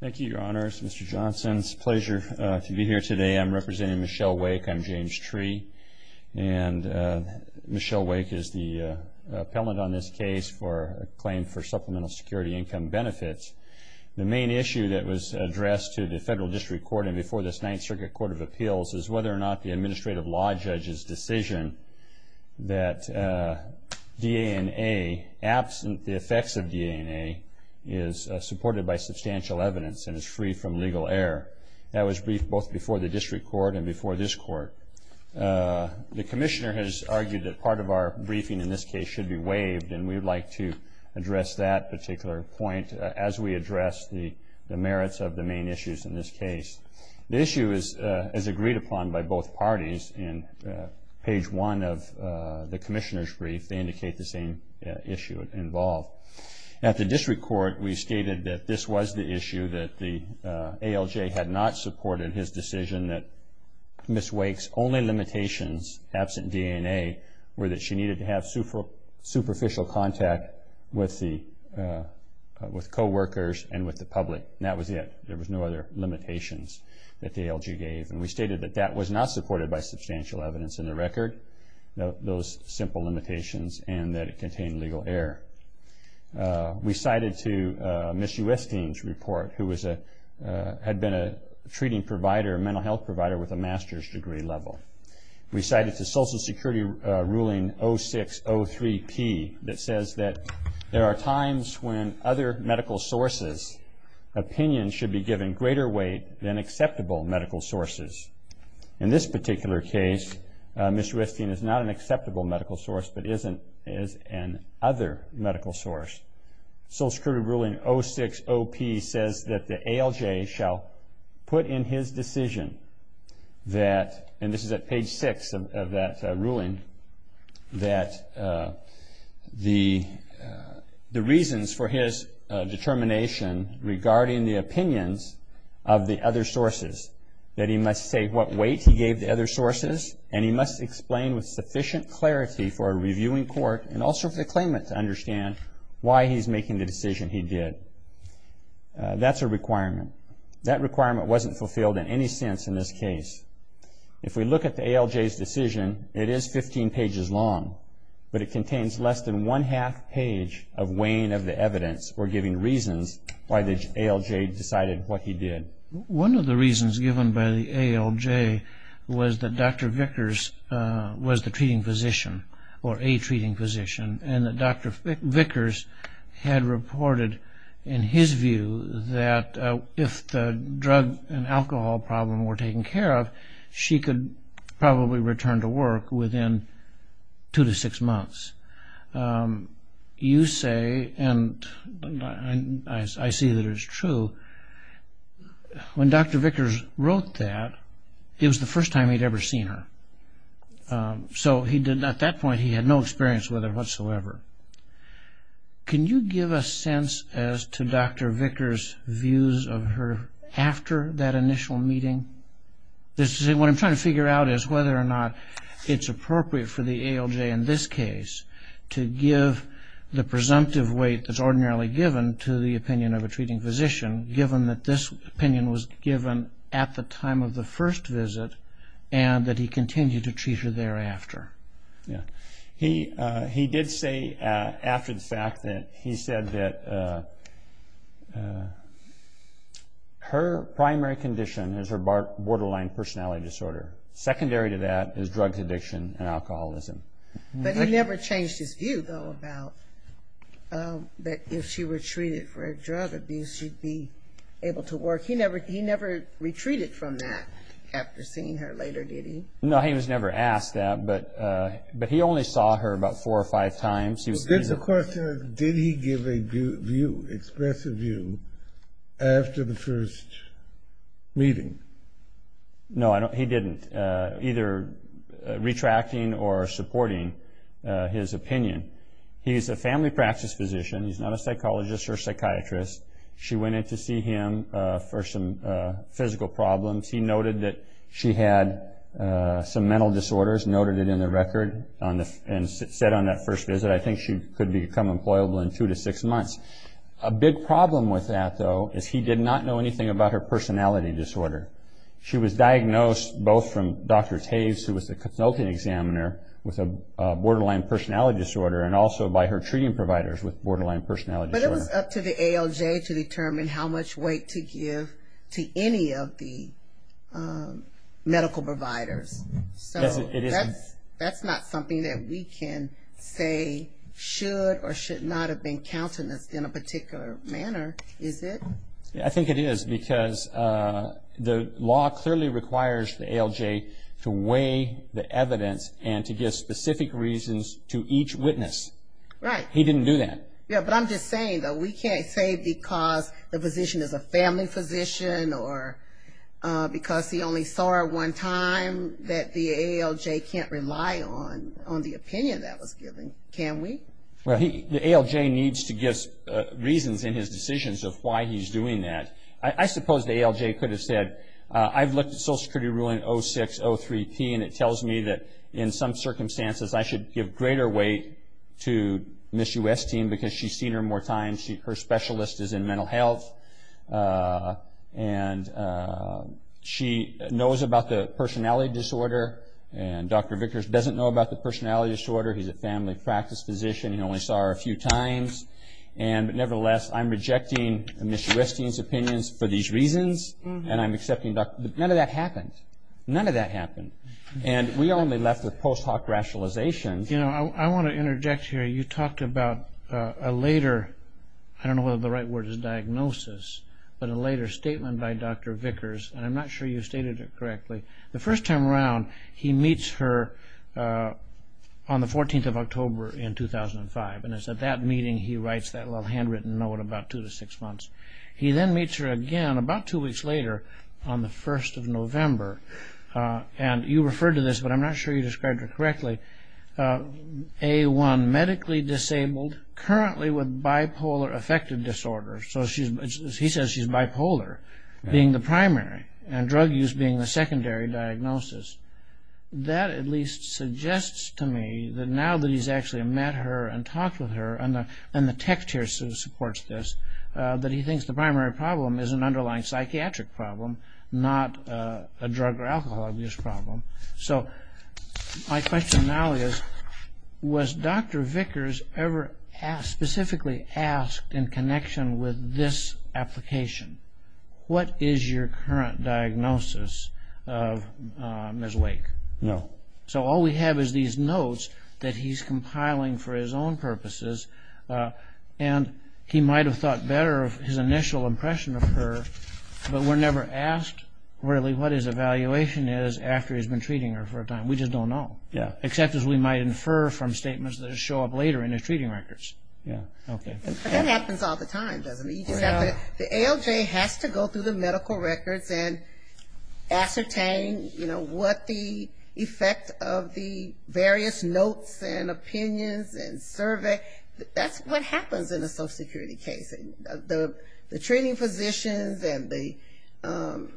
Thank you, Your Honors. Mr. Johnson, it's a pleasure to be here today. I'm representing Michelle Wake. I'm James Tree. And Michelle Wake is the appellant on this case for a claim for Supplemental Security Income Benefits. The main issue that was addressed to the Federal District Court and before this Ninth Circuit Court of Appeals is whether or not the Administrative Law Judge's decision that DNA, absent the effects of DNA, is supported by substantial evidence and is free from legal error. That was briefed both before the District Court and before this Court. The Commissioner has argued that part of our briefing in this case should be waived, and we would like to address that particular point as we address the merits of the main issues in this case. The issue is agreed upon by both parties in page 1 of the Commissioner's brief. They indicate the same issue involved. At the District Court, we stated that this was the issue, that the ALJ had not supported his decision that Ms. Wake's only limitations, absent DNA, were that she needed to have superficial contact with coworkers and with the public. And that was it. There were no other limitations that the ALJ gave. And we stated that that was not supported by substantial evidence in the record, those simple limitations, and that it contained legal error. We cited to Ms. Uesting's report, who had been a treating provider, a mental health provider with a master's degree level. We cited the Social Security ruling 0603P that says that there are times when other medical sources' opinions should be given greater weight than acceptable medical sources. In this particular case, Ms. Uesting is not an acceptable medical source but is an other medical source. Social Security ruling 060P says that the ALJ shall put in his decision that, and this is at page six of that ruling, that the reasons for his determination regarding the opinions of the other sources, that he must say what weight he gave the other sources and he must explain with sufficient clarity for a reviewing court and also for the claimant to understand why he's making the decision he did. That's a requirement. That requirement wasn't fulfilled in any sense in this case. If we look at the ALJ's decision, it is 15 pages long, but it contains less than one-half page of weighing of the evidence or giving reasons why the ALJ decided what he did. One of the reasons given by the ALJ was that Dr. Vickers was the treating physician, or a treating physician, and that Dr. Vickers had reported in his view that if the drug and alcohol problem were taken care of, she could probably return to work within two to six months. You say, and I see that it's true, when Dr. Vickers wrote that, it was the first time he'd ever seen her. So at that point he had no experience with her whatsoever. Can you give a sense as to Dr. Vickers' views of her after that initial meeting? What I'm trying to figure out is whether or not it's appropriate for the ALJ in this case to give the presumptive weight that's ordinarily given to the opinion of a treating physician, given that this opinion was given at the time of the first visit and that he continued to treat her thereafter. He did say after the fact that he said that her primary condition is her borderline personality disorder. Secondary to that is drug addiction and alcoholism. But he never changed his view, though, about that if she were treated for drug abuse, she'd be able to work. He never retreated from that after seeing her later, did he? No, he was never asked that, but he only saw her about four or five times. The question is, did he give a view, express a view after the first meeting? No, he didn't, either retracting or supporting his opinion. He's a family practice physician. He's not a psychologist or psychiatrist. She went in to see him for some physical problems. He noted that she had some mental disorders, noted it in the record, and said on that first visit, I think she could become employable in two to six months. A big problem with that, though, is he did not know anything about her personality disorder. She was diagnosed both from Dr. Taves, who was the consulting examiner, with a borderline personality disorder, and also by her treating providers with borderline personality disorder. It's up to the ALJ to determine how much weight to give to any of the medical providers. That's not something that we can say should or should not have been counted in a particular manner, is it? I think it is because the law clearly requires the ALJ to weigh the evidence and to give specific reasons to each witness. Right. He didn't do that. Yeah, but I'm just saying, though, we can't say because the physician is a family physician or because he only saw her one time that the ALJ can't rely on the opinion that was given, can we? Well, the ALJ needs to give reasons in his decisions of why he's doing that. I suppose the ALJ could have said, I've looked at Social Security ruling 06-03-P, and it tells me that in some circumstances I should give greater weight to Ms. Uesting because she's seen her more times. Her specialist is in mental health, and she knows about the personality disorder, and Dr. Vickers doesn't know about the personality disorder. He's a family practice physician. He only saw her a few times. Nevertheless, I'm rejecting Ms. Uesting's opinions for these reasons, and none of that happened. None of that happened. And we only left with post-hoc rationalizations. I want to interject here. You talked about a later, I don't know whether the right word is diagnosis, but a later statement by Dr. Vickers, and I'm not sure you stated it correctly. The first time around, he meets her on the 14th of October in 2005, and it's at that meeting he writes that little handwritten note about two to six months. He then meets her again about two weeks later on the 1st of November, and you referred to this, but I'm not sure you described it correctly, A1, medically disabled, currently with bipolar affective disorder. So he says she's bipolar, being the primary, and drug use being the secondary diagnosis. That at least suggests to me that now that he's actually met her and talked with her, and the text here supports this, that he thinks the primary problem is an underlying psychiatric problem, not a drug or alcohol abuse problem. So my question now is, was Dr. Vickers ever specifically asked in connection with this application, what is your current diagnosis of Ms. Wake? No. So all we have is these notes that he's compiling for his own purposes, and he might have thought better of his initial impression of her, but we're never asked really what his evaluation is after he's been treating her for a time. We just don't know. Yeah. Except as we might infer from statements that show up later in his treating records. Yeah. Okay. That happens all the time, doesn't it? The ALJ has to go through the medical records and ascertain, you know, what the effect of the various notes and opinions and survey, that's what happens in a social security case. The treating physicians and the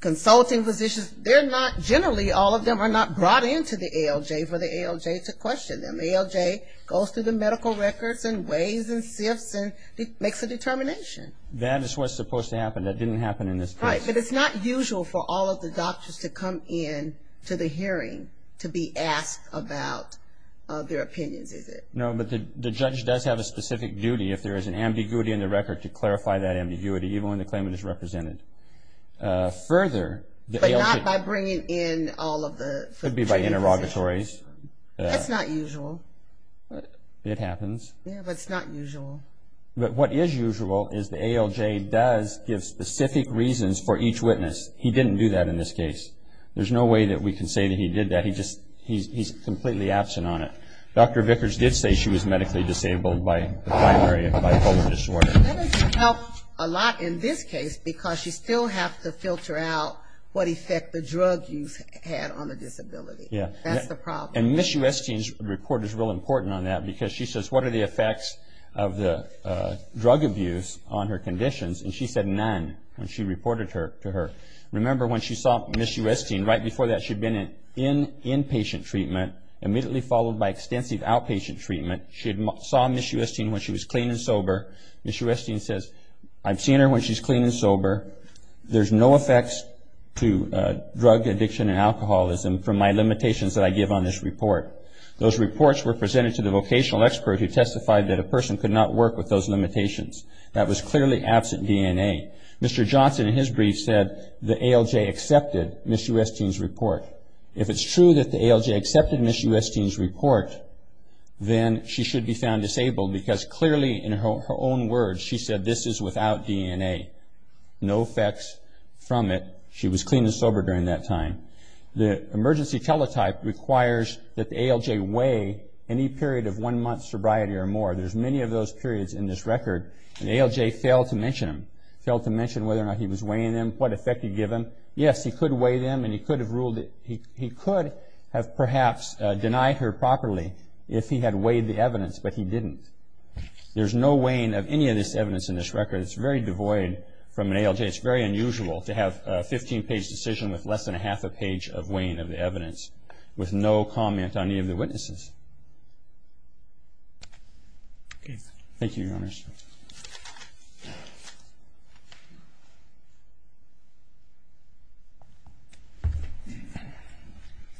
consulting physicians, they're not generally, all of them are not brought into the ALJ for the ALJ to question them. The ALJ goes through the medical records and weighs and sifts and makes a determination. That is what's supposed to happen. That didn't happen in this case. Right. But it's not usual for all of the doctors to come in to the hearing to be asked about their opinions, is it? No, but the judge does have a specific duty, if there is an ambiguity in the record, to clarify that ambiguity, even when the claimant is represented. Further, the ALJ- But not by bringing in all of the- Could be by interrogatories. That's not usual. It happens. Yeah, but it's not usual. But what is usual is the ALJ does give specific reasons for each witness. He didn't do that in this case. There's no way that we can say that he did that. He's completely absent on it. Dr. Vickers did say she was medically disabled by the primary bipolar disorder. That doesn't help a lot in this case, because you still have to filter out what effect the drug use had on the disability. That's the problem. And Ms. Uesting's report is real important on that, because she says what are the effects of the drug abuse on her conditions, and she said none when she reported to her. Remember, when she saw Ms. Uesting, right before that she'd been in inpatient treatment, immediately followed by extensive outpatient treatment. She saw Ms. Uesting when she was clean and sober. Ms. Uesting says, I've seen her when she's clean and sober. There's no effects to drug addiction and alcoholism from my limitations that I give on this report. Those reports were presented to the vocational expert who testified that a person could not work with those limitations. That was clearly absent DNA. Mr. Johnson, in his brief, said the ALJ accepted Ms. Uesting's report. If it's true that the ALJ accepted Ms. Uesting's report, then she should be found disabled, because clearly in her own words she said this is without DNA. No effects from it. She was clean and sober during that time. The emergency teletype requires that the ALJ weigh any period of one month's sobriety or more. There's many of those periods in this record, and the ALJ failed to mention them, failed to mention whether or not he was weighing them, what effect he'd given. Yes, he could weigh them, and he could have ruled that he could have perhaps denied her properly if he had weighed the evidence, but he didn't. There's no weighing of any of this evidence in this record. It's very devoid from an ALJ. It's very unusual to have a 15-page decision with less than half a page of weighing of the evidence with no comment on any of the witnesses. Thank you, Your Honors.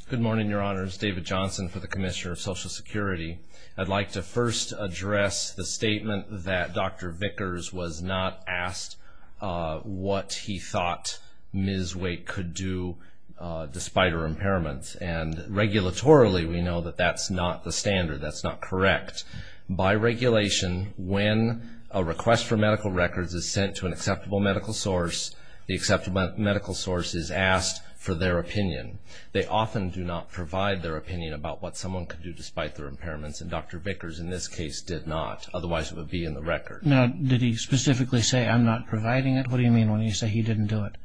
Good morning, Your Honors. David Johnson for the Commissioner of Social Security. I'd like to first address the statement that Dr. Vickers was not asked what he thought Ms. Wake could do despite her impairments, and regulatorily we know that that's not the standard. That's not correct. By regulation, when a request for medical records is sent to an acceptable medical source, the acceptable medical source is asked for their opinion. They often do not provide their opinion about what someone could do despite their impairments, and Dr. Vickers in this case did not, otherwise it would be in the record. Now, did he specifically say, I'm not providing it? What do you mean when you say he didn't do it?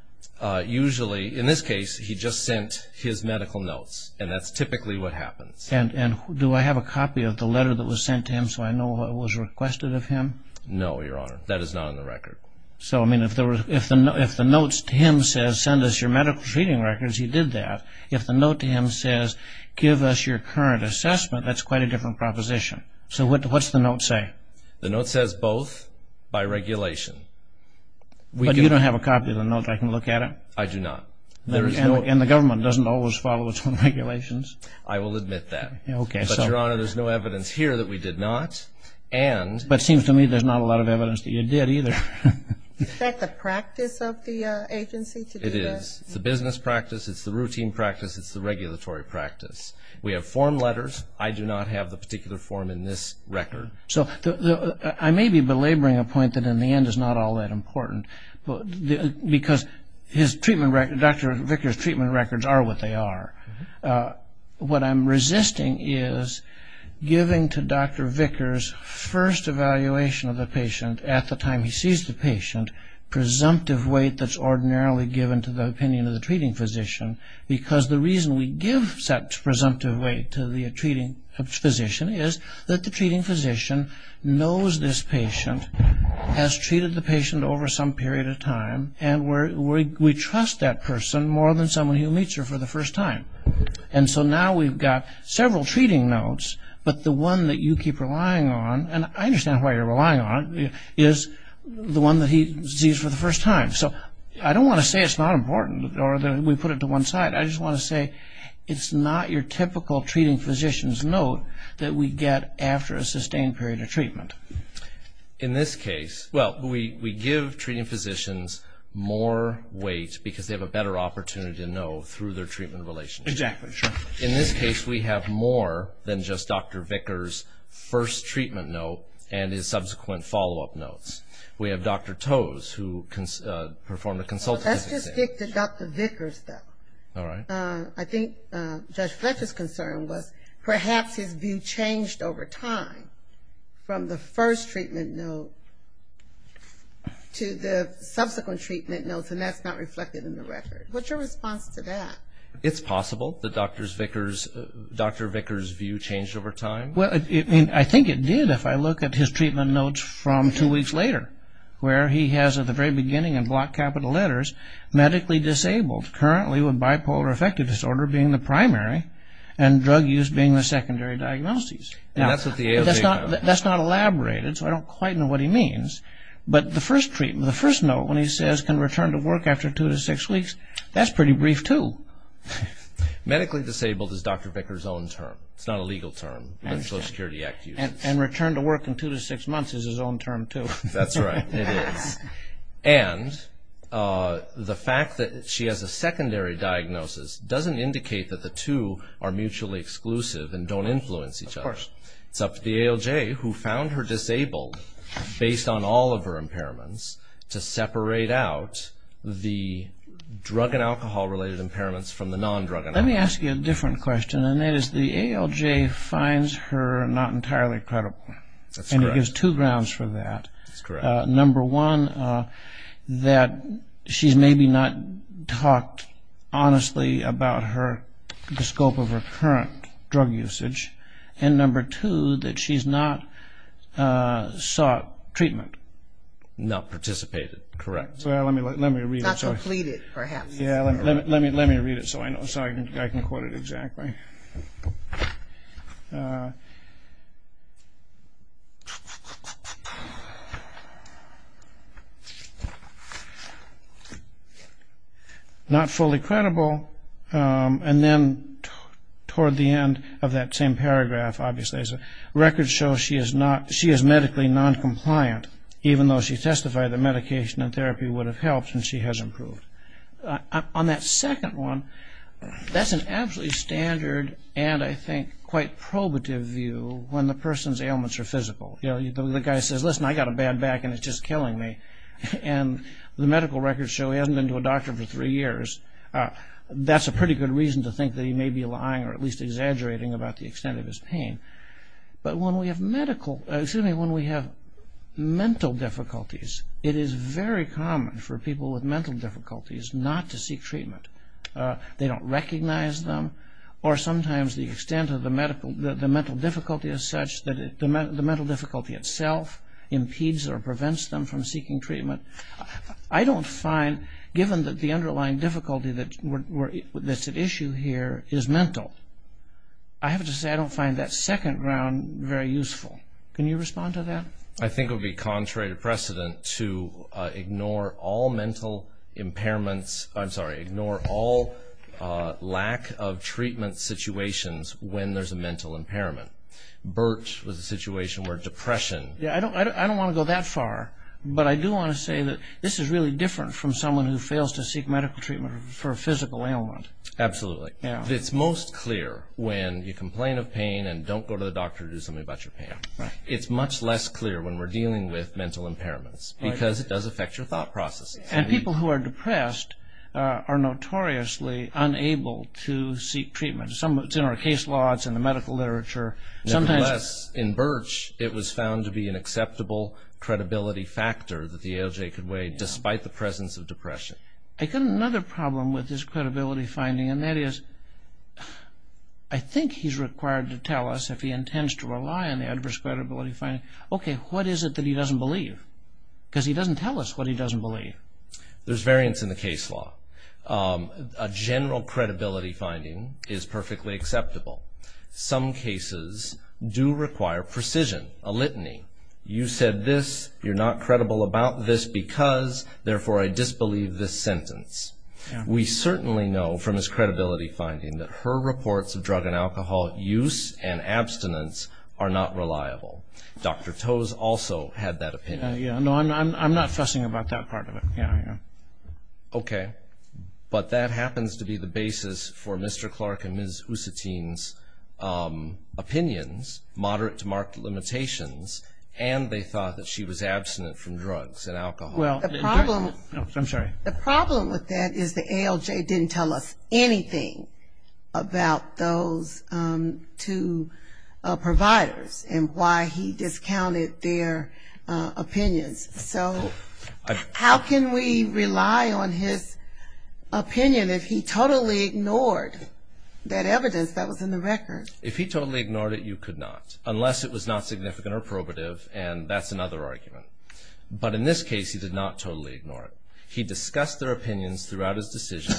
Usually, in this case, he just sent his medical notes, and that's typically what happens. And do I have a copy of the letter that was sent to him so I know what was requested of him? No, Your Honor. That is not in the record. So, I mean, if the notes to him says, send us your medical treating records, he did that. If the note to him says, give us your current assessment, that's quite a different proposition. So what does the note say? The note says both by regulation. But you don't have a copy of the note. I can look at it. I do not. And the government doesn't always follow its own regulations. I will admit that. Okay. But, Your Honor, there's no evidence here that we did not, and But it seems to me there's not a lot of evidence that you did either. Is that the practice of the agency to do that? It is. It's the business practice. It's the routine practice. It's the regulatory practice. We have form letters. I do not have the particular form in this record. So I may be belaboring a point that, in the end, is not all that important, because Dr. Vickers' treatment records are what they are. What I'm resisting is giving to Dr. Vickers' first evaluation of the patient at the time he sees the patient, presumptive weight that's ordinarily given to the opinion of the treating physician, because the reason we give such presumptive weight to the treating physician is that the treating physician knows this patient, has treated the patient over some period of time, and we trust that person more than someone who meets her for the first time. And so now we've got several treating notes, but the one that you keep relying on, and I understand why you're relying on, is the one that he sees for the first time. So I don't want to say it's not important or that we put it to one side. I just want to say it's not your typical treating physician's note that we get after a sustained period of treatment. In this case, well, we give treating physicians more weight because they have a better opportunity to know through their treatment relationship. Exactly, sure. In this case, we have more than just Dr. Vickers' first treatment note and his subsequent follow-up notes. We have Dr. Toews, who performed a consultative exam. Let's just stick to Dr. Vickers, though. All right. I think Judge Fletcher's concern was perhaps his view changed over time from the first treatment note to the subsequent treatment notes, and that's not reflected in the record. What's your response to that? It's possible that Dr. Vickers' view changed over time. Well, I think it did if I look at his treatment notes from two weeks later, where he has at the very beginning in block capital letters, medically disabled, currently with bipolar affective disorder being the primary, and drug use being the secondary diagnoses. That's not elaborated, so I don't quite know what he means. But the first treatment, the first note when he says, can return to work after two to six weeks, that's pretty brief, too. Medically disabled is Dr. Vickers' own term. It's not a legal term, but it's Social Security Act use. And return to work in two to six months is his own term, too. That's right, it is. And the fact that she has a secondary diagnosis doesn't indicate that the two are mutually exclusive and don't influence each other. Of course. It's up to the ALJ, who found her disabled based on all of her impairments, to separate out the drug and alcohol-related impairments from the non-drug and alcohol. Let me ask you a different question, and that is the ALJ finds her not entirely credible. That's correct. And it gives two grounds for that. That's correct. Number one, that she's maybe not talked honestly about the scope of her current drug usage. And number two, that she's not sought treatment. Not participated, correct. Well, let me read it. Not completed, perhaps. Yeah, let me read it so I can quote it exactly. Not fully credible. And then toward the end of that same paragraph, obviously, it says records show she is medically non-compliant, even though she testified that medication and therapy would have helped and she has improved. On that second one, that's an absolutely standard and, I think, quite probative view when the person's ailments are physical. The guy says, listen, I've got a bad back and it's just killing me. And the medical records show he hasn't been to a doctor for three years. That's a pretty good reason to think that he may be lying or at least exaggerating about the extent of his pain. But when we have mental difficulties, it is very common for people with mental difficulties not to seek treatment. They don't recognize them or sometimes the extent of the mental difficulty is such that the mental difficulty itself impedes or prevents them from seeking treatment. I don't find, given that the underlying difficulty that's at issue here is mental, I have to say I don't find that second ground very useful. Can you respond to that? I think it would be contrary to precedent to ignore all mental impairments, I'm sorry, ignore all lack of treatment situations when there's a mental impairment. Burt was a situation where depression... I don't want to go that far, but I do want to say that this is really different from someone who fails to seek medical treatment for a physical ailment. Absolutely. It's most clear when you complain of pain and don't go to the doctor to do something about your pain. It's much less clear when we're dealing with mental impairments because it does affect your thought processes. And people who are depressed are notoriously unable to seek treatment. It's in our case laws, it's in the medical literature. Nevertheless, in Burt it was found to be an acceptable credibility factor that the ALJ could weigh despite the presence of depression. I've got another problem with his credibility finding, and that is I think he's required to tell us if he intends to rely on the adverse credibility finding, okay, what is it that he doesn't believe? Because he doesn't tell us what he doesn't believe. There's variance in the case law. A general credibility finding is perfectly acceptable. Some cases do require precision, a litany. You said this, you're not credible about this because, therefore, I disbelieve this sentence. We certainly know from his credibility finding that her reports of drug and alcohol use and abstinence are not reliable. Dr. Toews also had that opinion. No, I'm not fussing about that part of it. Okay. But that happens to be the basis for Mr. Clark and Ms. Usatin's opinions, moderate to marked limitations, and they thought that she was abstinent from drugs and alcohol. I'm sorry. The problem with that is the ALJ didn't tell us anything about those two providers and why he discounted their opinions. So how can we rely on his opinion if he totally ignored that evidence that was in the record? If he totally ignored it, you could not, unless it was not significant or probative, and that's another argument. But in this case, he did not totally ignore it. He discussed their opinions throughout his decision.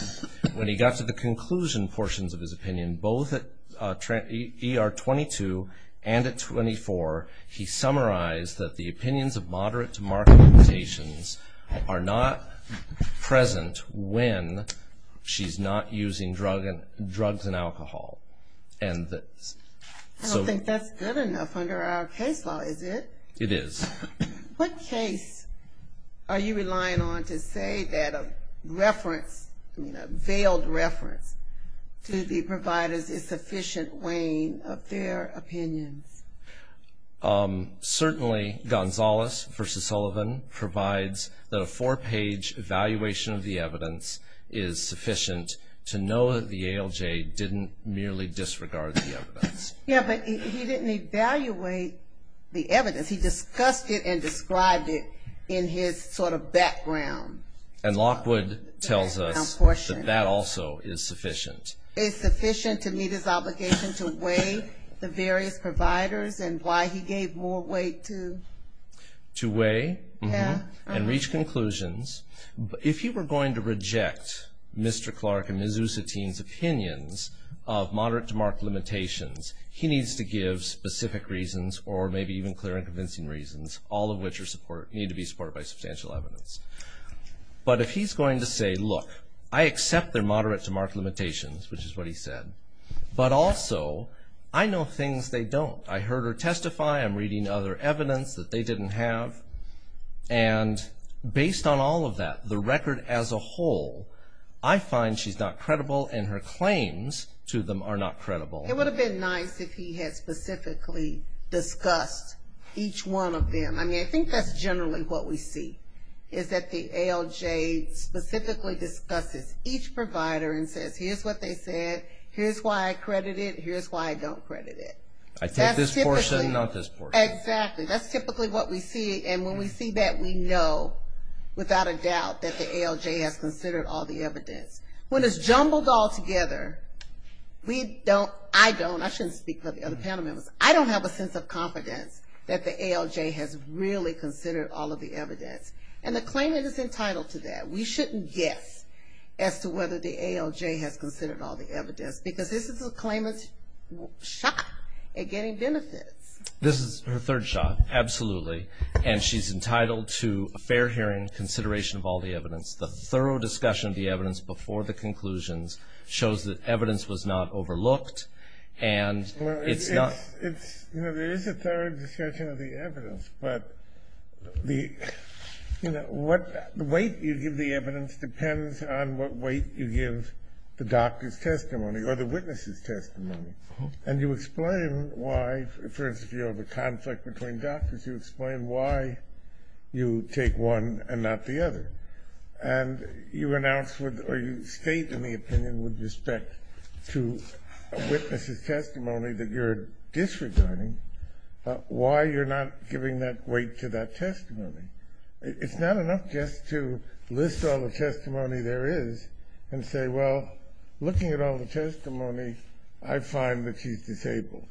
When he got to the conclusion portions of his opinion, both at ER 22 and at 24, he summarized that the opinions of moderate to marked limitations are not present when she's not using drugs and alcohol. I don't think that's good enough under our case law, is it? It is. What case are you relying on to say that a reference, a veiled reference to the providers is sufficient weighing of their opinions? Certainly, Gonzales v. Sullivan provides that a four-page evaluation of the evidence is sufficient to know that the ALJ didn't merely disregard the evidence. Yes, but he didn't evaluate the evidence. He discussed it and described it in his sort of background. And Lockwood tells us that that also is sufficient. It's sufficient to meet his obligation to weigh the various providers and why he gave more weight to... To weigh and reach conclusions. If he were going to reject Mr. Clark and Ms. Usatine's opinions of moderate to marked limitations, he needs to give specific reasons or maybe even clear and convincing reasons, all of which need to be supported by substantial evidence. But if he's going to say, look, I accept their moderate to marked limitations, which is what he said, but also I know things they don't. I heard her testify. I'm reading other evidence that they didn't have. And based on all of that, the record as a whole, I find she's not credible and her claims to them are not credible. It would have been nice if he had specifically discussed each one of them. I mean, I think that's generally what we see, is that the ALJ specifically discusses each provider and says, here's what they said, here's why I credit it, here's why I don't credit it. I take this portion, not this portion. Exactly. That's typically what we see, and when we see that, we know without a doubt that the ALJ has considered all the evidence. When it's jumbled all together, we don't, I don't, I shouldn't speak for the other panel members, I don't have a sense of confidence that the ALJ has really considered all of the evidence. And the claimant is entitled to that. We shouldn't guess as to whether the ALJ has considered all the evidence, because this is a claimant's shot at getting benefits. This is her third shot, absolutely, and she's entitled to a fair hearing, consideration of all the evidence. The thorough discussion of the evidence before the conclusions shows that evidence was not overlooked, and it's not. Well, it's, it's, you know, there is a thorough discussion of the evidence, but the, you know, what, the weight you give the evidence depends on what weight you give the doctor's testimony or the witness's testimony. And you explain why, for instance, you know, the conflict between doctors, you explain why you take one and not the other. And you announce or you state in the opinion with respect to a witness's testimony that you're disregarding why you're not giving that weight to that testimony. It's not enough just to list all the testimony there is and say, well, looking at all the testimony, I find that she's disabled.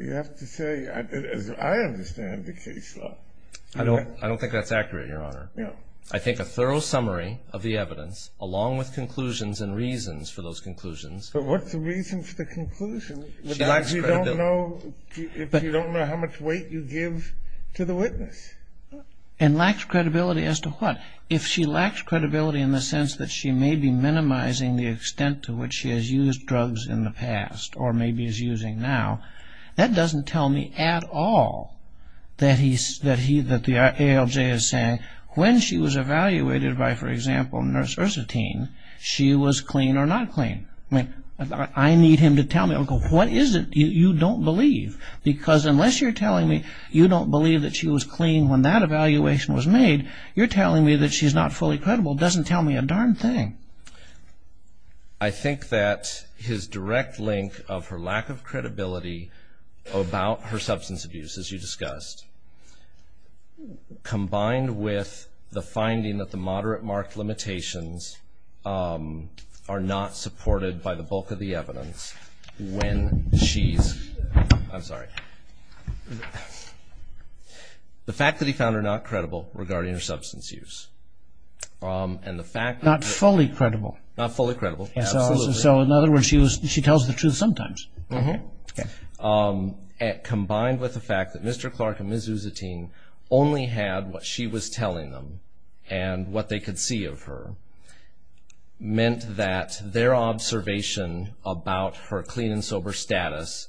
You have to say, as I understand the case law. I don't, I don't think that's accurate, Your Honor. No. I think a thorough summary of the evidence, along with conclusions and reasons for those conclusions. But what's the reason for the conclusion? She lacks credibility. If you don't know, if you don't know how much weight you give to the witness. And lacks credibility as to what? If she lacks credibility in the sense that she may be minimizing the extent to which she has used drugs in the past or maybe is using now, that doesn't tell me at all that he, that the ALJ is saying, when she was evaluated by, for example, Nurse Ursotine, she was clean or not clean. I mean, I need him to tell me. What is it you don't believe? Because unless you're telling me you don't believe that she was clean when that evaluation was made, you're telling me that she's not fully credible doesn't tell me a darn thing. I think that his direct link of her lack of credibility about her substance abuse, as you discussed, combined with the finding that the moderate mark limitations are not supported by the bulk of the evidence when she's, I'm sorry. The fact that he found her not credible regarding her substance use, and the fact that... Not fully credible. Not fully credible, absolutely. So in other words, she tells the truth sometimes. Mm-hmm. Combined with the fact that Mr. Clark and Ms. Ursotine only had what she was telling them and what they could see of her meant that their observation about her clean and sober status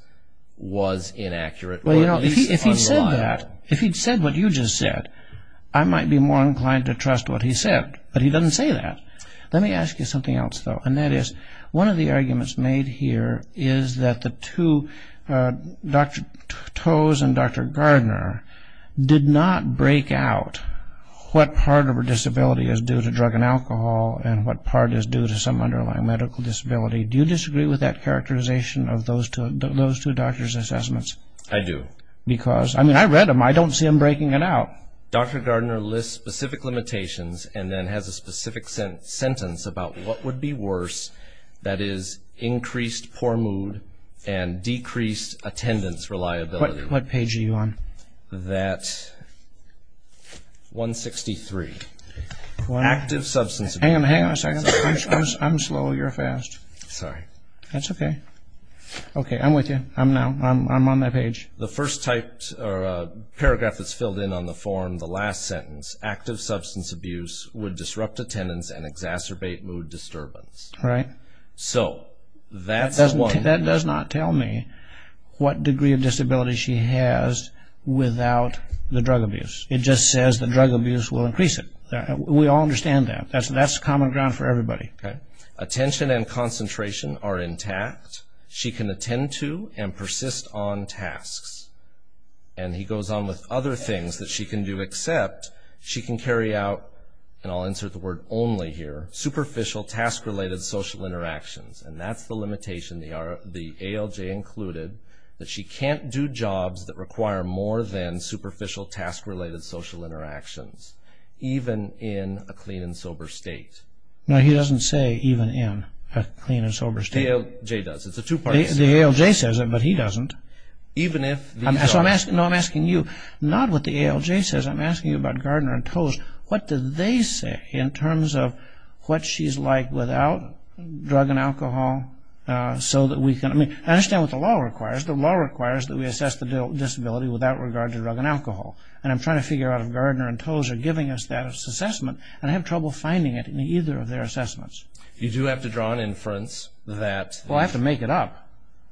was inaccurate or at least unreliable. If he'd said that, if he'd said what you just said, I might be more inclined to trust what he said, but he doesn't say that. Let me ask you something else, though, and that is, one of the arguments made here is that the two, Dr. Toews and Dr. Gardner, did not break out what part of her disability is due to drug and alcohol and what part is due to some underlying medical disability. Do you disagree with that characterization of those two doctors' assessments? I do. Because, I mean, I read them. I don't see them breaking it out. Dr. Gardner lists specific limitations and then has a specific sentence about what would be worse, that is, increased poor mood and decreased attendance reliability. What page are you on? That 163, active substance abuse. Hang on a second. I'm slow. Oh, you're fast. Sorry. That's okay. Okay, I'm with you. I'm now. I'm on that page. The first typed paragraph that's filled in on the form, the last sentence, active substance abuse would disrupt attendance and exacerbate mood disturbance. Right. So that's one. That does not tell me what degree of disability she has without the drug abuse. It just says the drug abuse will increase it. We all understand that. That's common ground for everybody. Okay. Attention and concentration are intact. She can attend to and persist on tasks. And he goes on with other things that she can do except she can carry out, and I'll insert the word only here, superficial task-related social interactions. And that's the limitation, the ALJ included, that she can't do jobs that require more than superficial task-related social interactions, even in a clean and sober state. No, he doesn't say even in a clean and sober state. The ALJ does. It's a two-parter statement. The ALJ says it, but he doesn't. Even if the job. No, I'm asking you, not what the ALJ says. I'm asking you about Gardner and Toews. What do they say in terms of what she's like without drug and alcohol so that we can, I mean, I understand what the law requires. The law requires that we assess the disability without regard to drug and alcohol. And I'm trying to figure out if Gardner and Toews are giving us that assessment, and I have trouble finding it in either of their assessments. You do have to draw an inference that. Well, I have to make it up.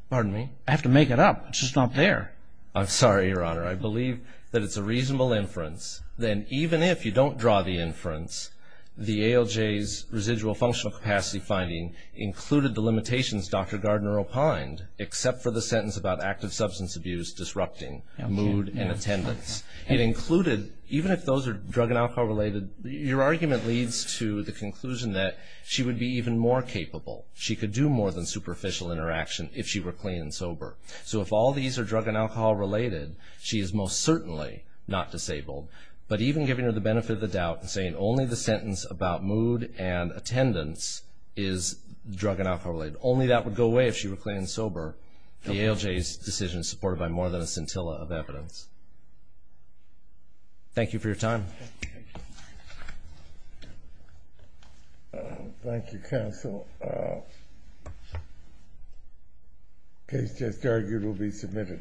Pardon me? I have to make it up. It's just not there. I'm sorry, Your Honor. I believe that it's a reasonable inference that even if you don't draw the inference, the ALJ's residual functional capacity finding included the limitations Dr. Gardner opined, except for the sentence about active substance abuse disrupting mood and attendance. It included, even if those are drug and alcohol related, your argument leads to the conclusion that she would be even more capable. She could do more than superficial interaction if she were clean and sober. So if all these are drug and alcohol related, she is most certainly not disabled. But even giving her the benefit of the doubt and saying only the sentence about mood and attendance is drug and alcohol related, only that would go away if she were clean and sober, the ALJ's decision is supported by more than a scintilla of evidence. Thank you for your time. Thank you, counsel. Case just argued will be submitted.